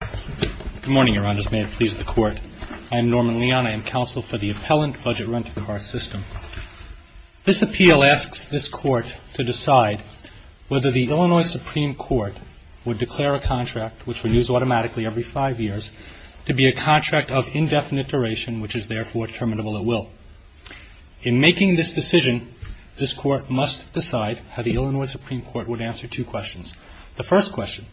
Good morning, Your Honors. May it please the Court. I am Norman Leon. I am counsel for the Appellant Budget Rent-a-Car System. This appeal asks this Court to decide whether the Illinois Supreme Court would declare a contract, which renews automatically every five years, to be a contract of indefinite duration, which is therefore terminable at will. In making this decision, this Court must decide how the Illinois Supreme Court would answer two questions. The first question,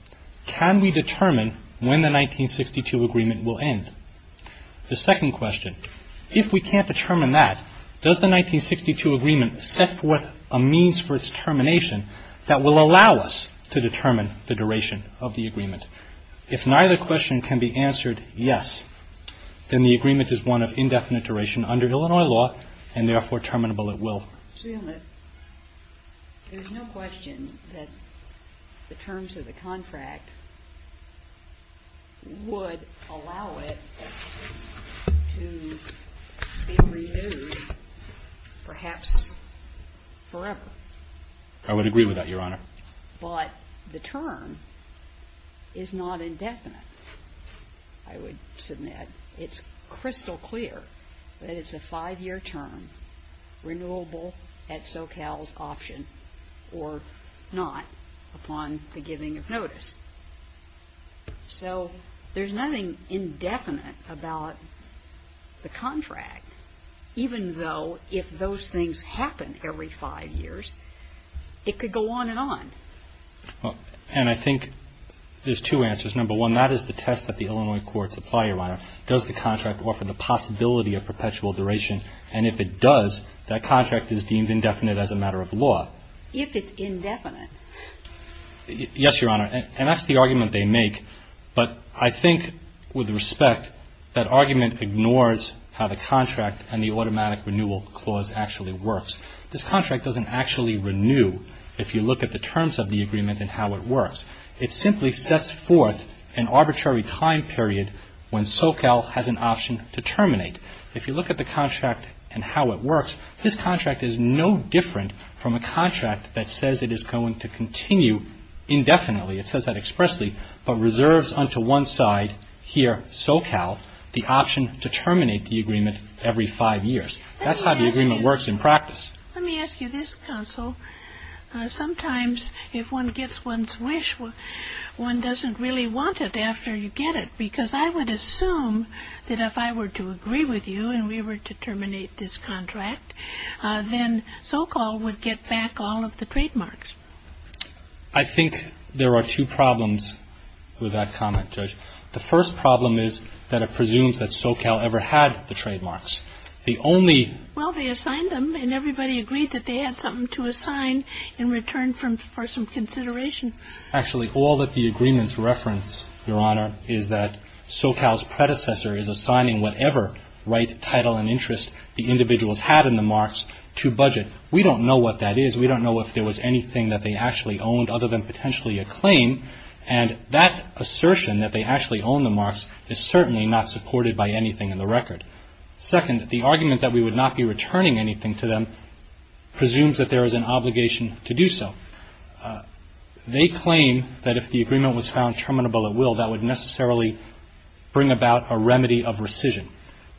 can we determine when the 1962 agreement will end? The second question, if we can't determine that, does the 1962 agreement set forth a means for its termination that will allow us to determine the duration of the agreement? If neither question can be answered yes, then the agreement is one of indefinite duration under Illinois law and therefore terminable at will. I assume that there's no question that the terms of the contract would allow it to be renewed perhaps forever. I would agree with that, Your Honor. But the term is not indefinite, I would submit. It's crystal clear that it's a five-year term, renewable at SoCal's option or not, upon the giving of notice. So there's nothing indefinite about the contract, even though if those things happen every five years, it could go on and on. And I think there's two answers. Number one, that is the test that the Illinois courts apply, Your Honor. Does the contract offer the possibility of perpetual duration? And if it does, that contract is deemed indefinite as a matter of law. If it's indefinite. Yes, Your Honor. And that's the argument they make. But I think, with respect, that argument ignores how the contract and the automatic renewal clause actually works. This contract doesn't actually renew if you look at the terms of the agreement and how it works. It simply sets forth an arbitrary time period when SoCal has an option to terminate. If you look at the contract and how it works, this contract is no different from a contract that says it is going to continue indefinitely. It says that expressly, but reserves unto one side here, SoCal, the option to terminate the agreement every five years. That's how the agreement works in practice. Let me ask you this, counsel. Sometimes if one gets one's wish, one doesn't really want it after you get it, because I would assume that if I were to agree with you and we were to terminate this contract, then SoCal would get back all of the trademarks. I think there are two problems with that comment, Judge. The first problem is that it presumes that SoCal ever had the trademarks. The only Well, they assigned them, and everybody agreed that they had something to assign in return for some consideration. Actually, all that the agreements reference, Your Honor, is that SoCal's predecessor is assigning whatever right, title, and interest the individuals had in the marks to budget. We don't know what that is. We don't know if there was anything that they actually owned other than potentially a claim, and that assertion that they actually owned the marks is certainly not supported by anything in the record. Second, the argument that we would not be returning anything to them presumes that there is an obligation to do so. They claim that if the agreement was found terminable at will, that would necessarily bring about a remedy of rescission.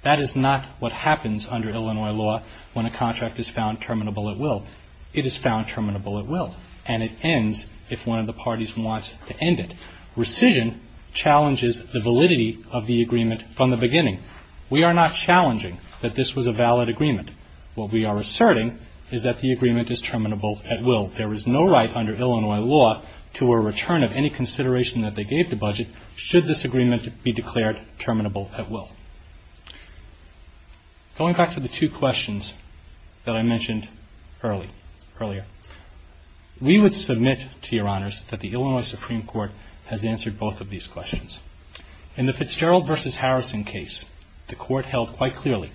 That is not what happens under Illinois law when a contract is found terminable at will. It is found terminable at will, and it ends if one of the parties wants to end it. Rescission challenges the validity of the agreement from the beginning. We are not challenging that this was a valid agreement. What we are asserting is that the agreement is terminable at will. There is no right under Illinois law to a return of any consideration that they gave the budget should this agreement be declared terminable at will. Going back to the two questions that I mentioned earlier, we would submit to Your Honors that the Illinois Supreme Court has answered both of these questions. In the Fitzgerald v. Harrison case, the Court held quite clearly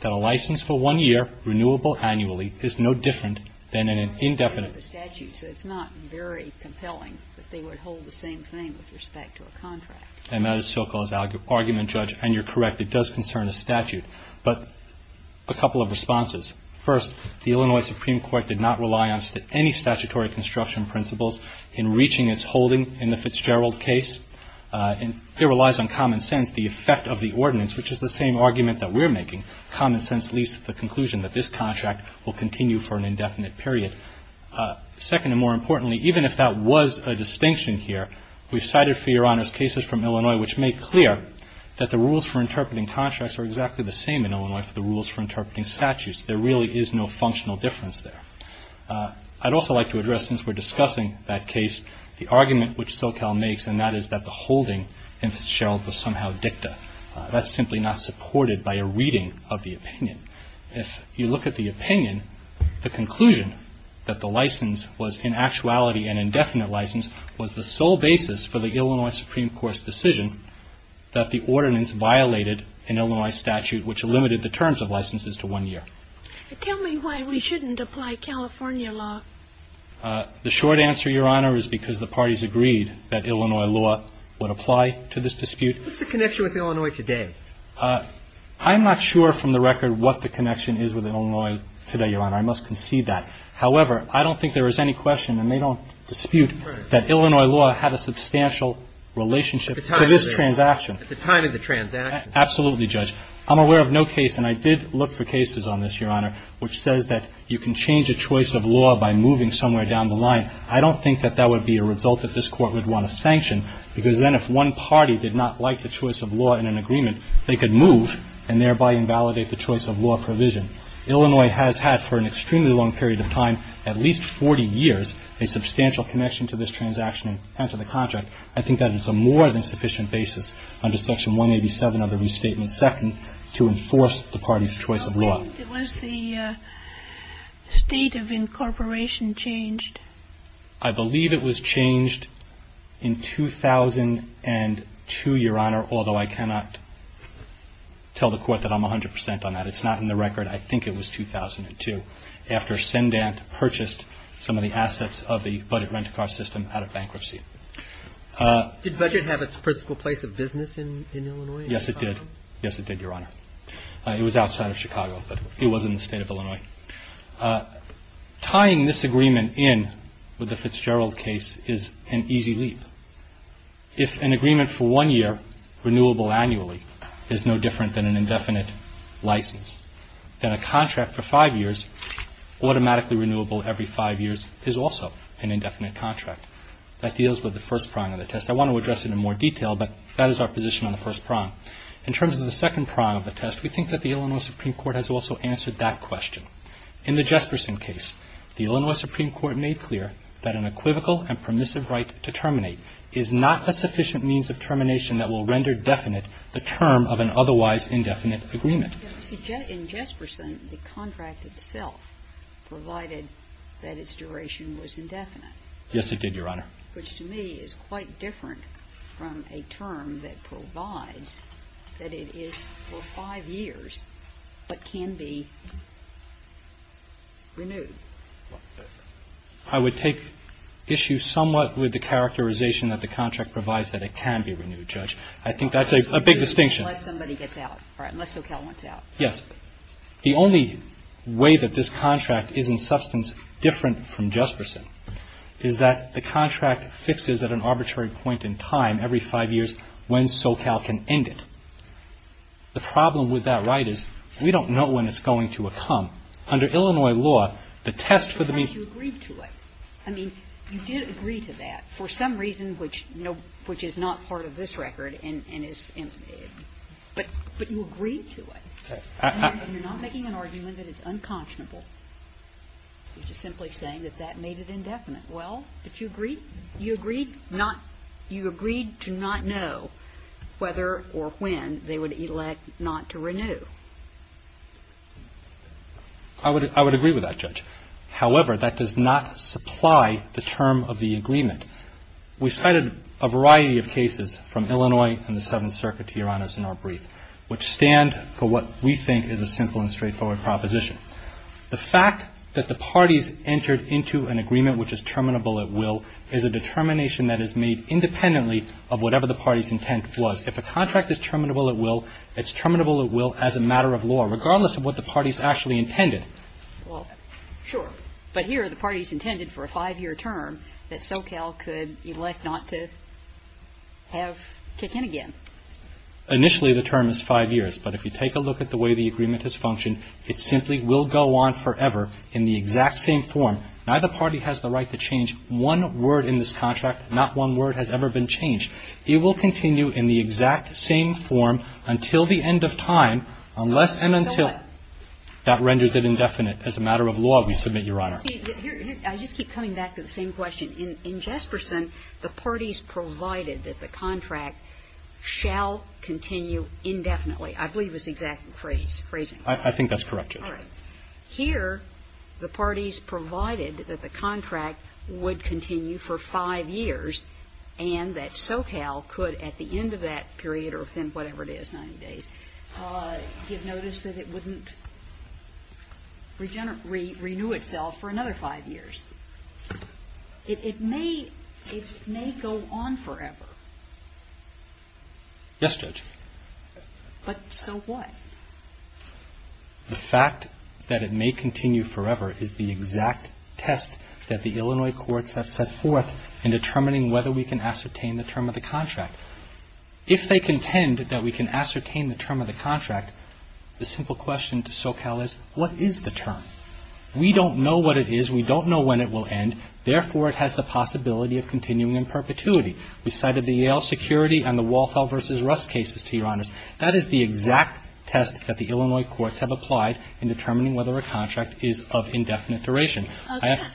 that a license for one year, renewable annually, is no different than an indefinite license. It's not very compelling that they would hold the same thing with respect to a contract. And that is so-called argument, Judge, and you're correct. It does concern a statute. But a couple of responses. First, the Illinois Supreme Court did not rely on any statutory construction principles in reaching its holding in the Fitzgerald case. It relies on common sense, the effect of the ordinance, which is the same argument that we're making. Common sense leads to the conclusion that this contract will continue for an indefinite period. Second, and more importantly, even if that was a distinction here, we've cited for Your Honors cases from Illinois which make clear that the rules for interpreting contracts are exactly the same in Illinois for the rules for interpreting statutes. There really is no functional difference there. I'd also like to address, since we're discussing that case, the argument which SoCal makes, and that is that the holding in Fitzgerald was somehow dicta. That's simply not supported by a reading of the opinion. If you look at the opinion, the conclusion that the license was in actuality an indefinite license was the sole basis for the Illinois Supreme Court's decision that the ordinance violated an Illinois statute which limited the terms of licenses to one year. Tell me why we shouldn't apply California law. The short answer, Your Honor, is because the parties agreed that Illinois law would apply to this dispute. What's the connection with Illinois today? I'm not sure from the record what the connection is with Illinois today, Your Honor. I must concede that. However, I don't think there is any question, and they don't dispute, that Illinois law had a substantial relationship to this transaction. At the time of the transaction. Absolutely, Judge. I'm aware of no case, and I did look for cases on this, Your Honor, which says that you can change a choice of law by moving somewhere down the line. I don't think that that would be a result that this Court would want to sanction, because then if one party did not like the choice of law in an agreement, they could move and thereby invalidate the choice of law provision. Illinois has had for an extremely long period of time, at least 40 years, a substantial connection to this transaction and to the contract. I think that is a more than sufficient basis under Section 187 of the Restatement II to enforce the parties' choice of law. How quickly was the state of incorporation changed? I believe it was changed in 2002, Your Honor, although I cannot tell the Court that I'm 100 percent on that. It's not in the record. I think it was 2002, after Sendant purchased some of the assets of the budget Did budget have its principal place of business in Illinois? Yes, it did. Yes, it did, Your Honor. It was outside of Chicago, but it was in the state of Illinois. Tying this agreement in with the Fitzgerald case is an easy leap. If an agreement for one year, renewable annually, is no different than an indefinite license, then a contract for five years, automatically renewable every five years, is also an indefinite contract. That deals with the first prong of the test. I want to address it in more detail, but that is our position on the first prong. In terms of the second prong of the test, we think that the Illinois Supreme Court has also answered that question. In the Jesperson case, the Illinois Supreme Court made clear that an equivocal and permissive right to terminate is not a sufficient means of termination that will render definite the term of an otherwise indefinite agreement. In Jesperson, the contract itself provided that its duration was indefinite. Yes, it did, Your Honor. Which to me is quite different from a term that provides that it is for five years but can be renewed. I would take issue somewhat with the characterization that the contract provides that it can be renewed, Judge. I think that's a big distinction. Unless somebody gets out. Unless SoCal wants out. Yes. The only way that this contract is in substance different from Jesperson is that the contract fixes at an arbitrary point in time, every five years, when SoCal can end it. The problem with that right is we don't know when it's going to come. Under Illinois law, the test for the means of termination. But you agreed to it. I mean, you did agree to that for some reason which is not part of this record and is, but you agreed to it. And you're not making an argument that it's unconscionable. You're just simply saying that that made it indefinite. Well, but you agreed, you agreed not, you agreed to not know whether or when they would elect not to renew. I would agree with that, Judge. However, that does not supply the term of the agreement. We cited a variety of cases from Illinois and the Seventh Circuit, Your Honors, in our brief, which stand for what we think is a simple and straightforward proposition. The fact that the parties entered into an agreement which is terminable at will is a determination that is made independently of whatever the party's intent was. If a contract is terminable at will, it's terminable at will as a matter of law, regardless of what the party's actually intended. Well, sure. But here, the party's intended for a five-year term that SoCal could elect not to have kick in again. Initially, the term is five years. But if you take a look at the way the agreement has functioned, it simply will go on forever in the exact same form. Neither party has the right to change one word in this contract. Not one word has ever been changed. It will continue in the exact same form until the end of time, unless and until that renders it indefinite. As a matter of law, we submit, Your Honor. I just keep coming back to the same question. In Jesperson, the parties provided that the contract shall continue indefinitely. I believe it's the exact phrase. I think that's correct, Judge. All right. Here, the parties provided that the contract would continue for five years and that SoCal could, at the end of that period or within whatever it is, 90 days, give notice that it wouldn't renew itself for another five years. It may go on forever. Yes, Judge. But so what? The fact that it may continue forever is the exact test that the Illinois courts have set forth in determining whether we can ascertain the term of the contract. If they contend that we can ascertain the term of the contract, the simple question to SoCal is, what is the term? We don't know what it is. We don't know when it will end. Therefore, it has the possibility of continuing in perpetuity. We cited the Yale security and the Walthall v. Rust cases, to Your Honors. That is the exact test that the Illinois courts have applied in determining whether a contract is of indefinite duration.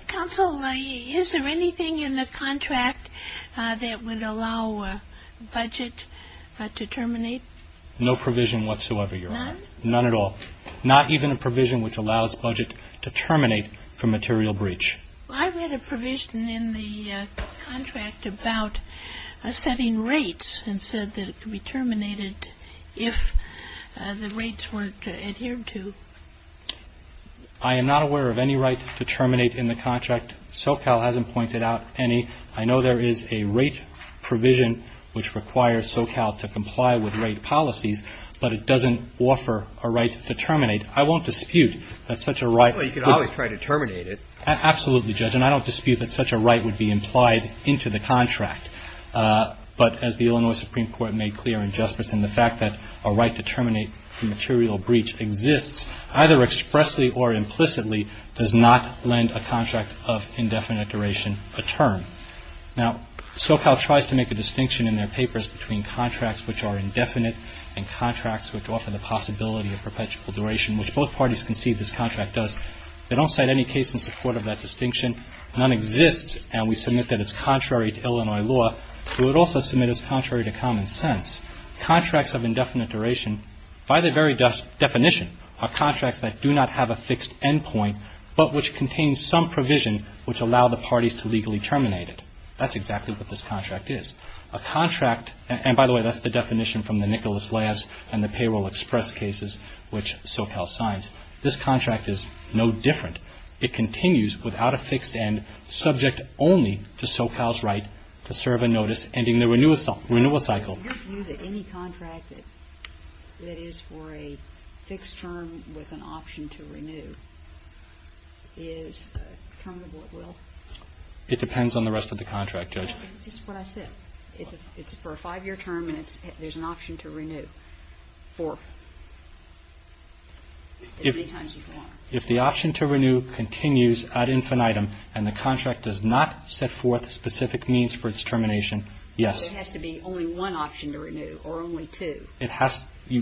Counsel, is there anything in the contract that would allow a budget to terminate? No provision whatsoever, Your Honor. None? None at all. Not even a provision which allows a budget to terminate for material breach. I read a provision in the contract about setting rates and said that it could be terminated if the rates weren't adhered to. I am not aware of any right to terminate in the contract. SoCal hasn't pointed out any. I know there is a rate provision which requires SoCal to comply with rate policies, but it doesn't offer a right to terminate. I won't dispute that such a right would be implied into the contract. Well, you could always try to terminate it. Absolutely, Judge, and I don't dispute that such a right would be implied into the contract. But as the Illinois Supreme Court made clear in Justice, and the fact that a right to terminate for material breach exists either expressly or implicitly does not lend a contract of indefinite duration a term. Now, SoCal tries to make a distinction in their papers between contracts which are indefinite and contracts which offer the possibility of perpetual duration, which both parties concede this contract does. They don't cite any case in support of that distinction. None exists, and we submit that it's contrary to Illinois law. We would also submit it's contrary to common sense. Contracts of indefinite duration, by their very definition, are contracts that do not have a fixed end point, but which contain some provision which allow the parties to legally terminate it. That's exactly what this contract is. A contract, and by the way, that's the definition from the Nicholas Labs and the payroll express cases which SoCal signs. This contract is no different. It continues without a fixed end, subject only to SoCal's right to serve a notice ending the renewal cycle. Do you view that any contract that is for a fixed term with an option to renew is terminable at will? It depends on the rest of the contract, Judge. That's just what I said. It's for a five-year term, and there's an option to renew for as many times as you want. If the option to renew continues ad infinitum and the contract does not set forth specific means for its termination, yes. So it has to be only one option to renew or only two. It has to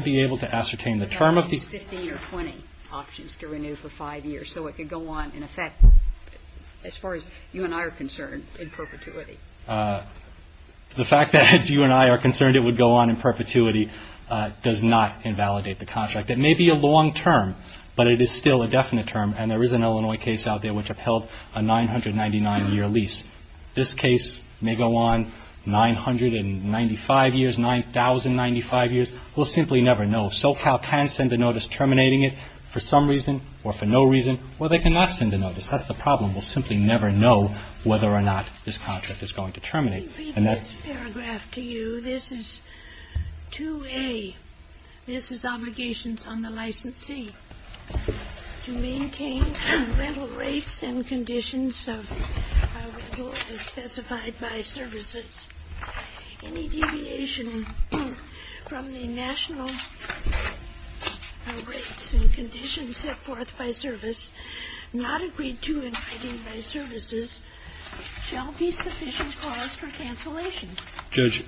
be able to ascertain the term of the There are at least 15 or 20 options to renew for five years, so it could go on in effect, as far as you and I are concerned, in perpetuity. The fact that, as you and I are concerned, it would go on in perpetuity does not invalidate the contract. It may be a long term, but it is still a definite term, and there is an Illinois case out there which upheld a 999-year lease. This case may go on 995 years, 9,095 years. We'll simply never know. SoCal can send a notice terminating it for some reason or for no reason, or they cannot send a notice. That's the problem. We'll simply never know whether or not this contract is going to terminate. And that's This is 2A. This is obligations on the licensee. Judge,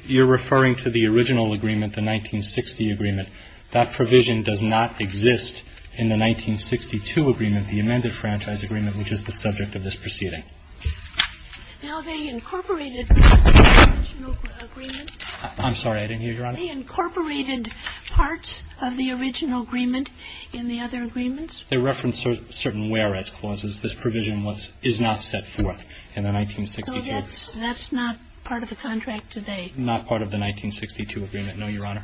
you're referring to the original agreement, the 1960 agreement. That provision does not exist in the 1962 agreement, the amended franchise agreement, which is the subject of this proceeding. Now, they incorporated I'm sorry. I didn't hear you, Your Honor. They incorporated parts of the original agreement in the other agreements. They referenced certain whereas clauses. This provision is not set forth in the 1962. That's not part of the contract today. Not part of the 1962 agreement, no, Your Honor.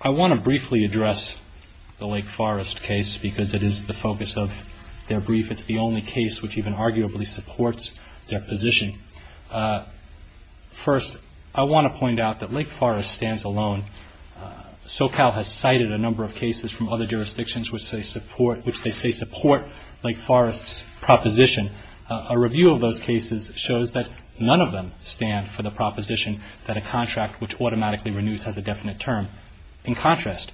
I want to briefly address the Lake Forest case because it is the focus of their brief. It's the only case which even arguably supports their position. First, I want to point out that Lake Forest stands alone. SoCal has cited a number of cases from other jurisdictions which they support Lake Forest's proposition. A review of those cases shows that none of them stand for the proposition that a contract which automatically renews has a definite term. In contrast,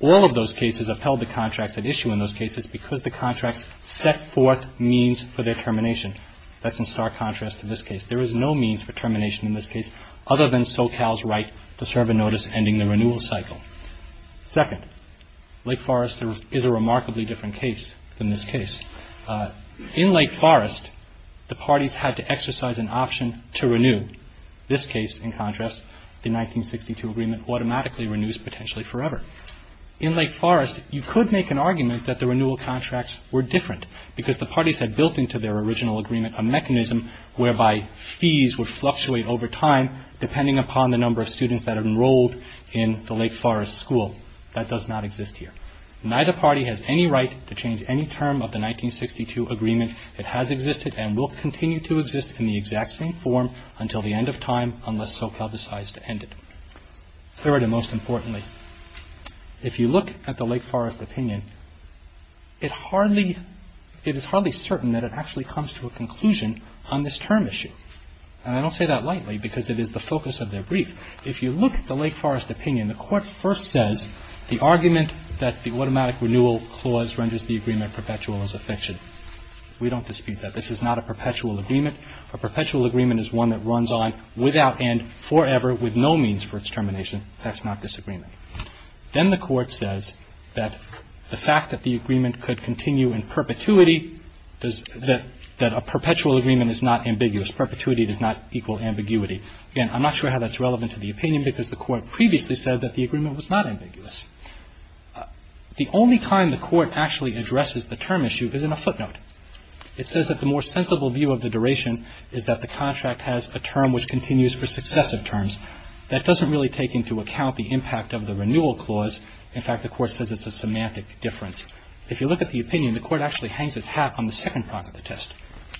all of those cases upheld the contracts at issue in those cases because the contracts set forth means for their termination. That's in stark contrast to this case. There is no means for termination in this case other than SoCal's right to serve a notice ending the renewal cycle. Second, Lake Forest is a remarkably different case than this case. In Lake Forest, the parties had to exercise an option to renew. This case, in contrast, the 1962 agreement automatically renews potentially forever. In Lake Forest, you could make an argument that the renewal contracts were different because the parties had built into their original agreement a mechanism whereby fees would fluctuate over time depending upon the number of students that enrolled in the Lake Forest school. That does not exist here. Neither party has any right to change any term of the 1962 agreement. It has existed and will continue to exist in the exact same form until the end of time unless SoCal decides to end it. Third and most importantly, if you look at the Lake Forest opinion, it is hardly certain that it actually comes to a conclusion on this term issue. And I don't say that lightly because it is the focus of their brief. If you look at the Lake Forest opinion, the Court first says the argument that the automatic renewal clause renders the agreement perpetual is a fiction. We don't dispute that. This is not a perpetual agreement. A perpetual agreement is one that runs on without end forever with no means for its termination. That's not this agreement. Then the Court says that the fact that the agreement could continue in perpetuity, that a perpetual agreement is not ambiguous. Perpetuity does not equal ambiguity. Again, I'm not sure how that's relevant to the opinion because the Court previously said that the agreement was not ambiguous. The only time the Court actually addresses the term issue is in a footnote. It says that the more sensible view of the duration is that the contract has a term which continues for successive terms. That doesn't really take into account the impact of the renewal clause. In fact, the Court says it's a semantic difference. If you look at the opinion, the Court actually hangs its hat on the second part of the test.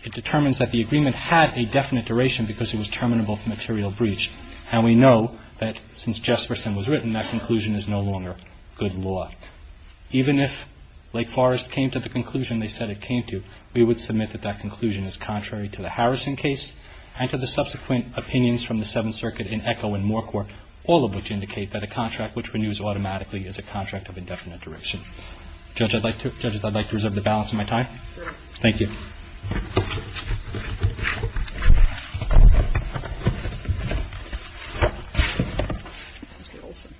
It determines that the agreement had a definite duration because it was terminable from material breach, and we know that since Jefferson was written, that conclusion is no longer good law. Even if Lake Forest came to the conclusion they said it came to, we would submit that that conclusion is contrary to the Harrison case and to the subsequent opinions from the Seventh Circuit in Echo and Moor Court, all of which indicate that a contract which renews automatically is a contract of indefinite duration. Judges, I'd like to reserve the balance of my time. Thank you. Please be seated.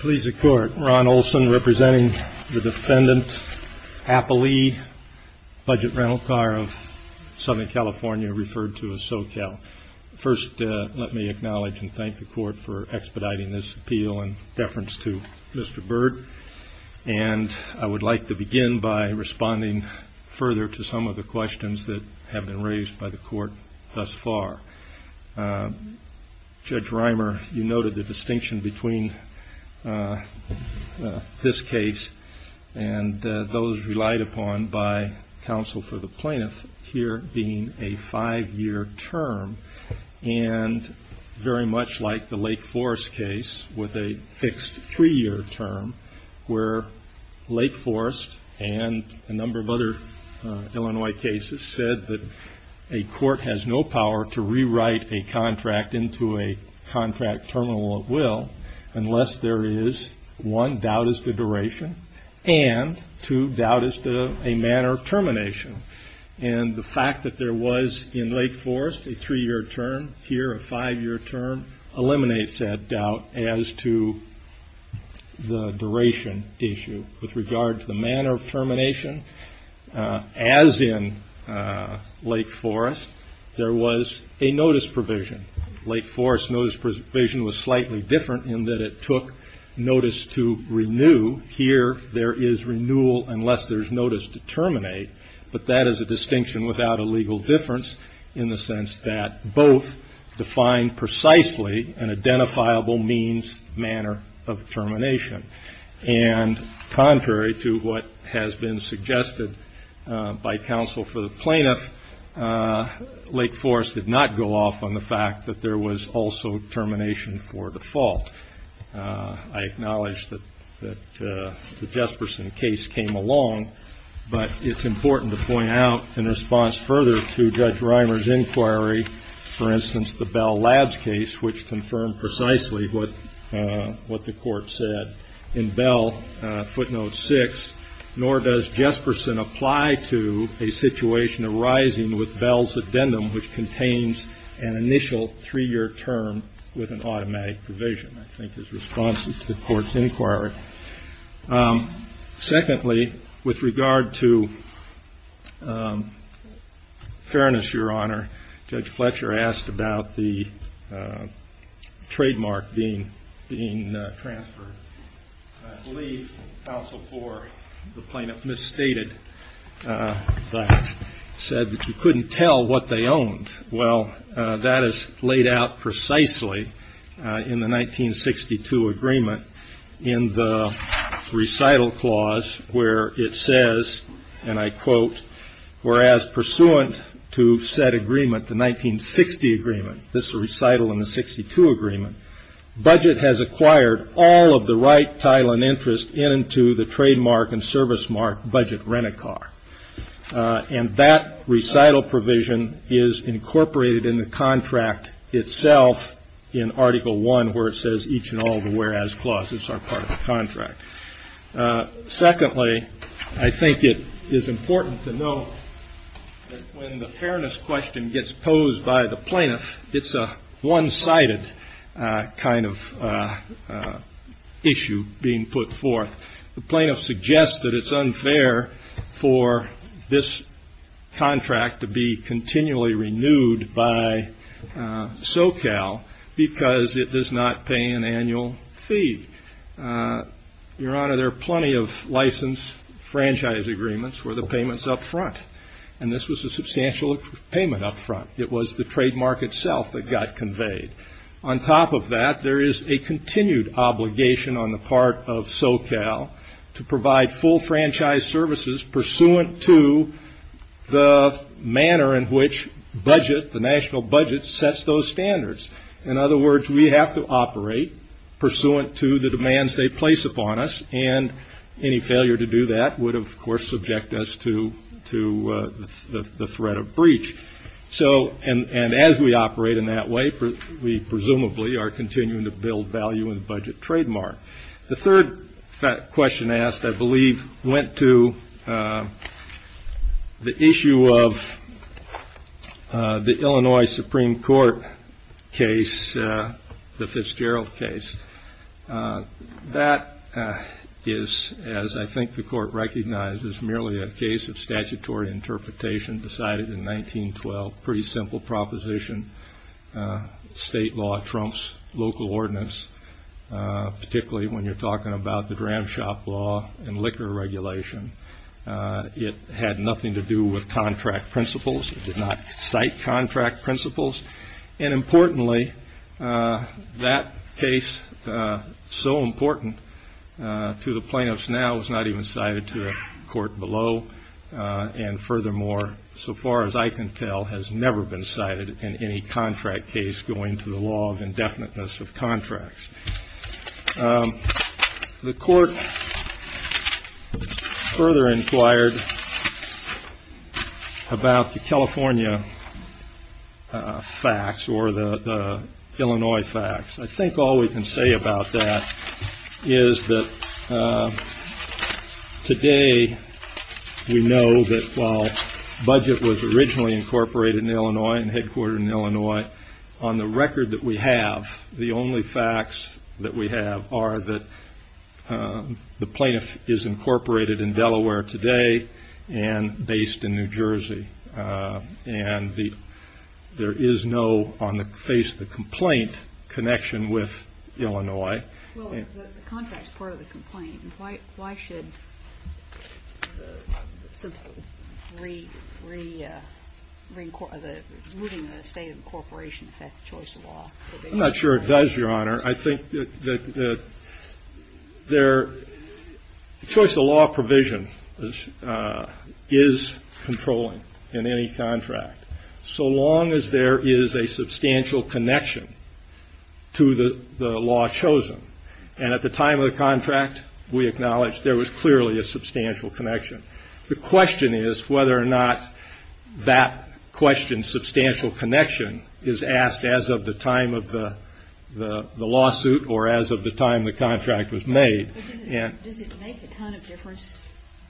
Please be seated. Ron Olson representing the defendant, Applee Budget Rental Car of Southern California referred to as SoCal. First, let me acknowledge and thank the Court for expediting this appeal in deference to Mr. Bird, and I would like to begin by responding further to some of the questions that have been raised by the Court thus far. Judge Reimer, you noted the distinction between this case and those relied upon by counsel for the plaintiff here being a five-year term, and very much like the Lake Forest case with a fixed three-year term where Lake Forest and a number of other Illinois cases said that a court has no power to rewrite a contract into a contract terminal of will unless there is, one, doubt as to duration, and, two, doubt as to a manner of termination. And the fact that there was in Lake Forest a three-year term, here a five-year term, eliminates that doubt as to the duration issue. With regard to the manner of termination, as in Lake Forest, there was a notice provision. Lake Forest's notice provision was slightly different in that it took notice to renew. Here there is renewal unless there is notice to terminate, but that is a distinction without a legal difference in the sense that both define precisely an identifiable means, manner of termination. And contrary to what has been suggested by counsel for the plaintiff, Lake Forest did not go off on the fact that there was also termination for default. I acknowledge that the Jesperson case came along, but it's important to point out in response further to Judge Reimer's inquiry, for instance, the Bell Labs case, which confirmed precisely what the Court said. In Bell, footnote 6, nor does Jesperson apply to a situation arising with Bell's addendum, which contains an initial three-year term with an automatic provision, I think is responsive to the Court's inquiry. Secondly, with regard to fairness, Your Honor, Judge Fletcher asked about the trademark being transferred. I believe counsel for the plaintiff misstated that, said that you couldn't tell what they owned. Well, that is laid out precisely in the 1962 agreement in the recital clause, where it says, and I quote, whereas pursuant to said agreement, the 1960 agreement, this recital in the 62 agreement, budget has acquired all of the right title and interest into the trademark and service mark budget rent-a-car. And that recital provision is incorporated in the contract itself in Article I, where it says each and all the whereas clauses are part of the contract. Secondly, I think it is important to know that when the fairness question gets posed by the plaintiff, it's a one-sided kind of issue being put forth. The plaintiff suggests that it's unfair for this contract to be continually renewed by SoCal because it does not pay an annual fee. Your Honor, there are plenty of license franchise agreements where the payment's up front, and this was a substantial payment up front. It was the trademark itself that got conveyed. On top of that, there is a continued obligation on the part of SoCal to provide full franchise services pursuant to the manner in which budget, the national budget, sets those standards. In other words, we have to operate pursuant to the demands they place upon us, and any failure to do that would, of course, subject us to the threat of breach. And as we operate in that way, we presumably are continuing to build value in the budget trademark. The third question asked, I believe, went to the issue of the Illinois Supreme Court case, the Fitzgerald case. That is, as I think the Court recognizes, merely a case of statutory interpretation decided in 1912, pretty simple proposition. State law trumps local ordinance, particularly when you're talking about the dram shop law and liquor regulation. It had nothing to do with contract principles. It did not cite contract principles. And importantly, that case, so important to the plaintiffs now, was not even cited to the court below. And furthermore, so far as I can tell, has never been cited in any contract case going to the law of indefiniteness of contracts. The court further inquired about the California facts or the Illinois facts. I think all we can say about that is that today we know that while budget was originally incorporated in Illinois and headquartered in Illinois, on the record that we have, the only facts that we have are that the plaintiff is incorporated in Delaware today and based in New Jersey. And there is no, on the face of the complaint, connection with Illinois. Well, the contract is part of the complaint. Why should the removing of the state of incorporation affect the choice of law? I'm not sure it does, Your Honor. I think that the choice of law provision is controlling in any contract, so long as there is a substantial connection to the law chosen. And at the time of the contract, we acknowledge there was clearly a substantial connection. The question is whether or not that question, substantial connection, is asked as of the time of the lawsuit or as of the time the contract was made. But does it make a ton of difference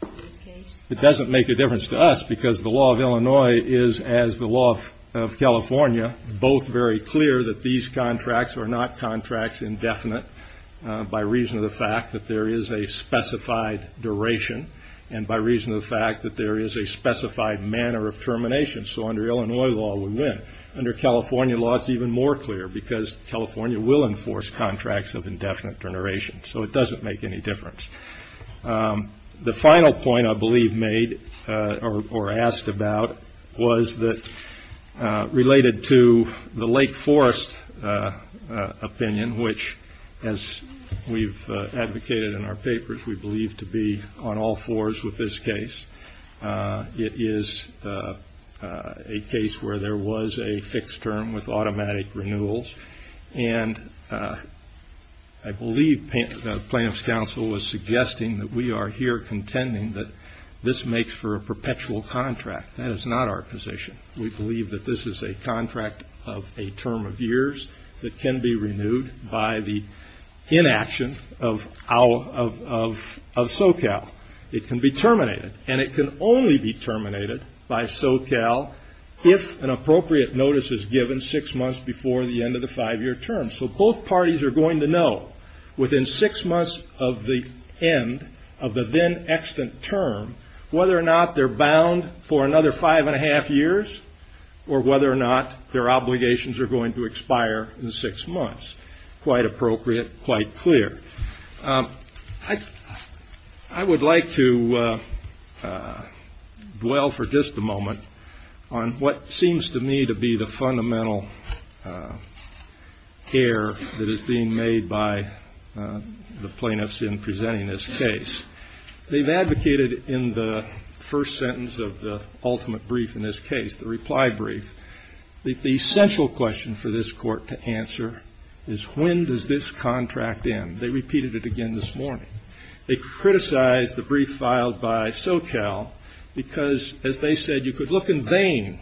in this case? It doesn't make a difference to us because the law of Illinois is, as the law of California, both very clear that these contracts are not contracts indefinite by reason of the fact that there is a specified duration and by reason of the fact that there is a specified manner of termination. So under Illinois law, we win. Under California law, it's even more clear because California will enforce contracts of indefinite duration. So it doesn't make any difference. The final point I believe made or asked about was related to the Lake Forest opinion, which, as we've advocated in our papers, we believe to be on all fours with this case. It is a case where there was a fixed term with automatic renewals. And I believe plaintiff's counsel was suggesting that we are here contending that this makes for a perpetual contract. That is not our position. We believe that this is a contract of a term of years that can be renewed by the inaction of SoCal. It can be terminated, and it can only be terminated by SoCal if an appropriate notice is given six months before the end of the five-year term. So both parties are going to know within six months of the end of the then-extant term whether or not they're bound for another five and a half years or whether or not their obligations are going to expire in six months. Quite appropriate, quite clear. I would like to dwell for just a moment on what seems to me to be the fundamental care that is being made by the plaintiffs in presenting this case. They've advocated in the first sentence of the ultimate brief in this case, the reply brief, that the essential question for this court to answer is when does this contract end? They repeated it again this morning. They criticized the brief filed by SoCal because, as they said, you could look in vain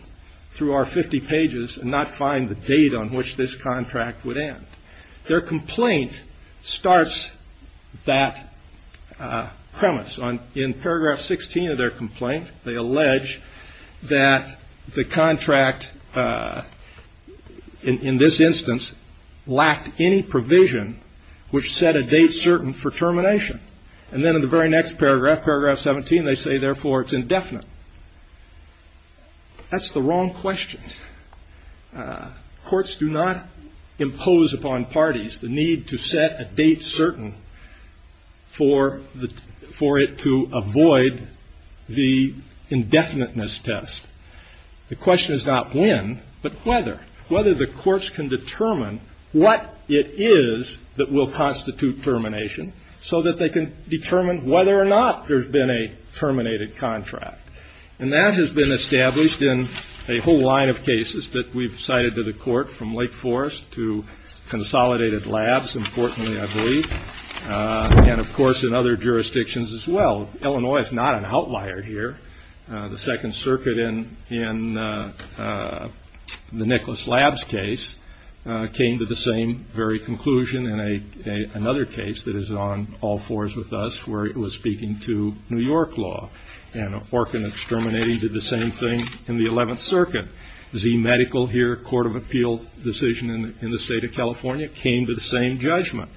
through our 50 pages and not find the date on which this contract would end. Their complaint starts that premise. In paragraph 16 of their complaint, they allege that the contract, in this instance, lacked any provision which set a date certain for termination. And then in the very next paragraph, paragraph 17, they say, therefore, it's indefinite. That's the wrong question. Courts do not impose upon parties the need to set a date certain for it to avoid the indefiniteness test. The question is not when, but whether, whether the courts can determine what it is that will constitute termination so that they can determine whether or not there's been a terminated contract. And that has been established in a whole line of cases that we've cited to the court, from Lake Forest to Consolidated Labs, importantly, I believe, and, of course, in other jurisdictions as well. Illinois is not an outlier here. The Second Circuit in the Nicholas Labs case came to the same very conclusion in another case that is on all fours with us where it was speaking to New York law. And Orkin Exterminating did the same thing in the Eleventh Circuit. Z Medical here, a court of appeal decision in the state of California, came to the same judgment.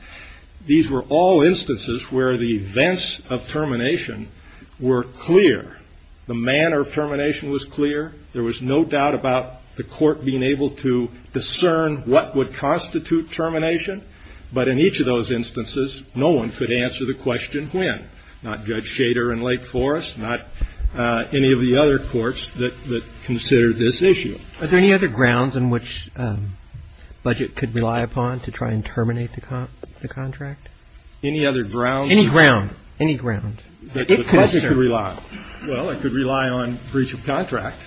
These were all instances where the events of termination were clear. The manner of termination was clear. There was no doubt about the court being able to discern what would constitute termination. But in each of those instances, no one could answer the question when, not Judge Shader in Lake Forest, not any of the other courts that considered this issue. Are there any other grounds on which the budget could rely upon to try and terminate the contract? Any other grounds? Any ground. Any ground. The budget could rely on. Well, it could rely on breach of contract,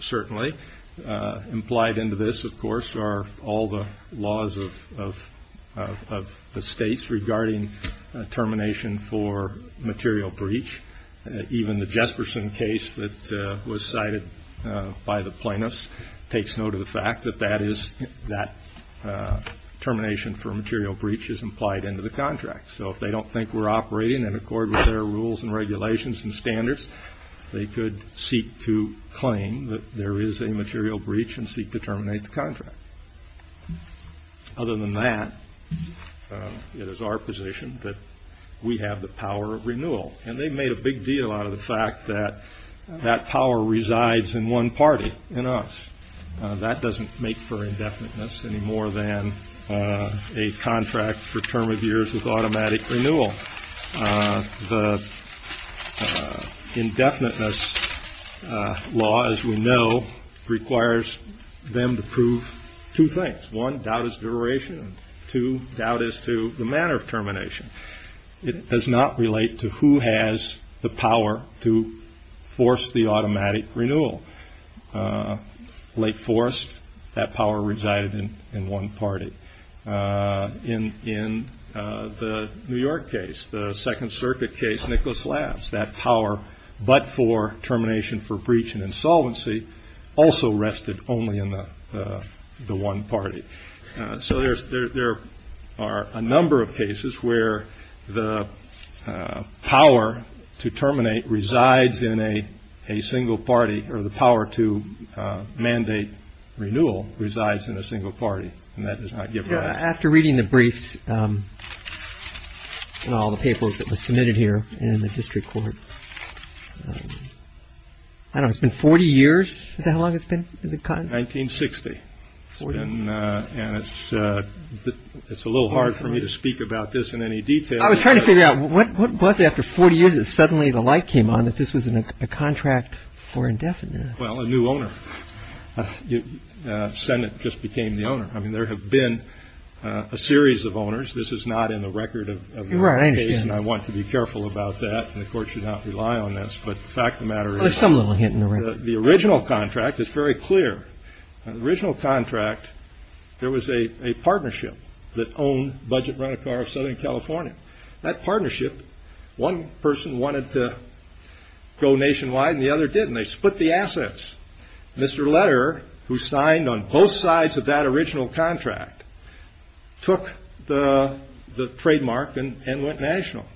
certainly. Implied into this, of course, are all the laws of the states regarding termination for material breach. Even the Jesperson case that was cited by the plaintiffs takes note of the fact that that is, that termination for material breach is implied into the contract. So if they don't think we're operating in accord with their rules and regulations and standards, they could seek to claim that there is a material breach and seek to terminate the contract. Other than that, it is our position that we have the power of renewal. And they've made a big deal out of the fact that that power resides in one party, in us. That doesn't make for indefiniteness any more than a contract for term of years with automatic renewal. The indefiniteness law, as we know, requires them to prove two things. One, doubt is duration. Two, doubt is to the manner of termination. It does not relate to who has the power to force the automatic renewal. Lake Forest, that power resided in one party. In the New York case, the Second Circuit case, Nicholas Labs, that power but for termination for breach and insolvency also rested only in the one party. So there are a number of cases where the power to terminate resides in a single party or the power to mandate renewal resides in a single party. And that does not give rise to. After reading the briefs and all the papers that were submitted here in the district court, I don't know. It's been 40 years. Is that how long it's been? 1960. And it's a little hard for me to speak about this in any detail. I was trying to figure out what was it after 40 years that suddenly the light came on that this was a contract for indefiniteness? Well, a new owner. Senate just became the owner. I mean, there have been a series of owners. This is not in the record of the case. And I want to be careful about that. And the court should not rely on this. But the fact of the matter is. There's some little hint in the record. The original contract is very clear. The original contract, there was a partnership that owned Budget Rent-A-Car of Southern California. That partnership, one person wanted to go nationwide and the other didn't. They split the assets. Mr. Lederer, who signed on both sides of that original contract, took the trademark and went national.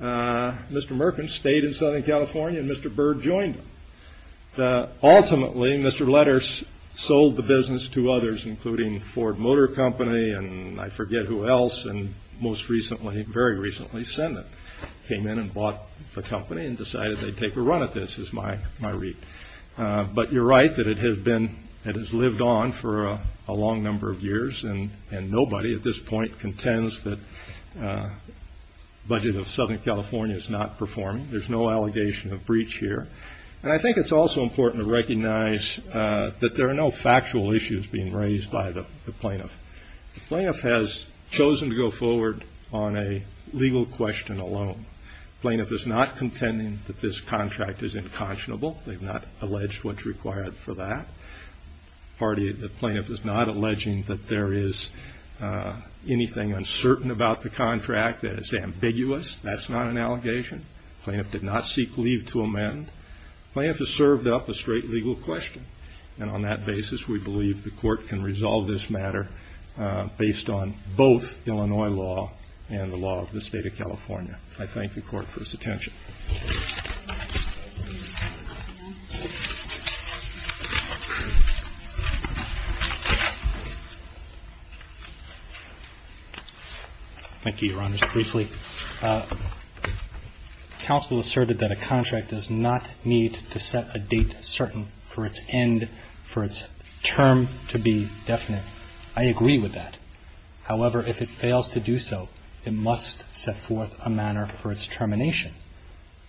Mr. Merkins stayed in Southern California and Mr. Byrd joined him. Ultimately, Mr. Lederer sold the business to others, including Ford Motor Company and I forget who else. And most recently, very recently, Senate came in and bought the company and decided they'd take a run at this, is my read. But you're right that it has lived on for a long number of years. And nobody at this point contends that Budget of Southern California is not performing. There's no allegation of breach here. And I think it's also important to recognize that there are no factual issues being raised by the plaintiff. The plaintiff has chosen to go forward on a legal question alone. The plaintiff is not contending that this contract is inconscionable. They've not alleged what's required for that. The plaintiff is not alleging that there is anything uncertain about the contract, that it's ambiguous. That's not an allegation. The plaintiff did not seek leave to amend. The plaintiff has served up a straight legal question. And on that basis, we believe the court can resolve this matter based on both Illinois law and the law of the State of California. I thank the court for its attention. Thank you, Your Honors. Briefly, counsel asserted that a contract does not need to set a date certain for its end, for its term to be definite. I agree with that. However, if it fails to do so, it must set forth a manner for its termination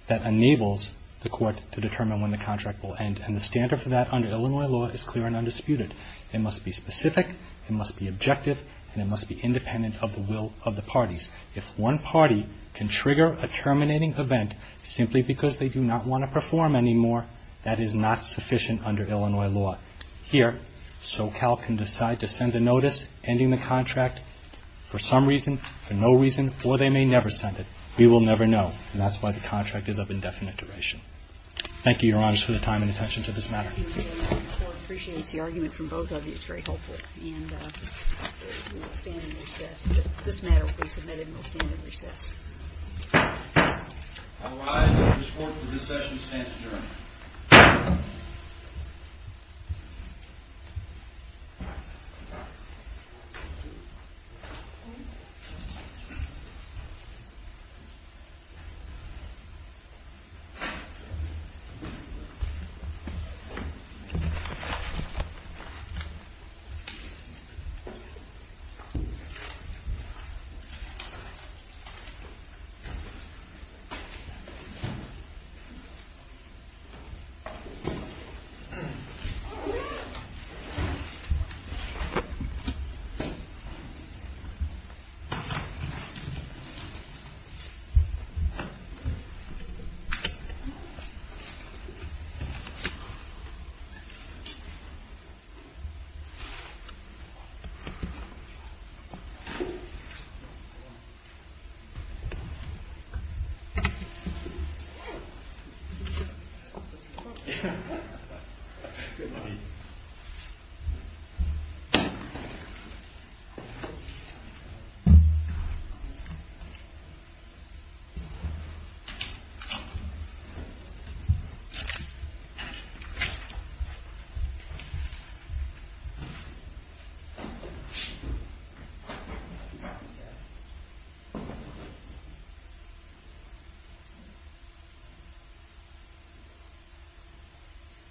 that enables the court to determine when the contract will end. And the standard for that under Illinois law is clear and undisputed. It must be specific. It must be objective. And it must be independent of the will of the parties. If one party can trigger a terminating event simply because they do not want to perform anymore, that is not sufficient under Illinois law. Here, SoCal can decide to send a notice ending the contract for some reason, for no reason, or they may never send it. We will never know. And that's why the contract is of indefinite duration. Thank you, Your Honors, for your time and attention to this matter. Thank you, Your Honor. The court appreciates the argument from both of you. It's very helpful. And we will stand and recess. All rise. The court for this session stands adjourned. The court is adjourned. The court is adjourned. The court is adjourned.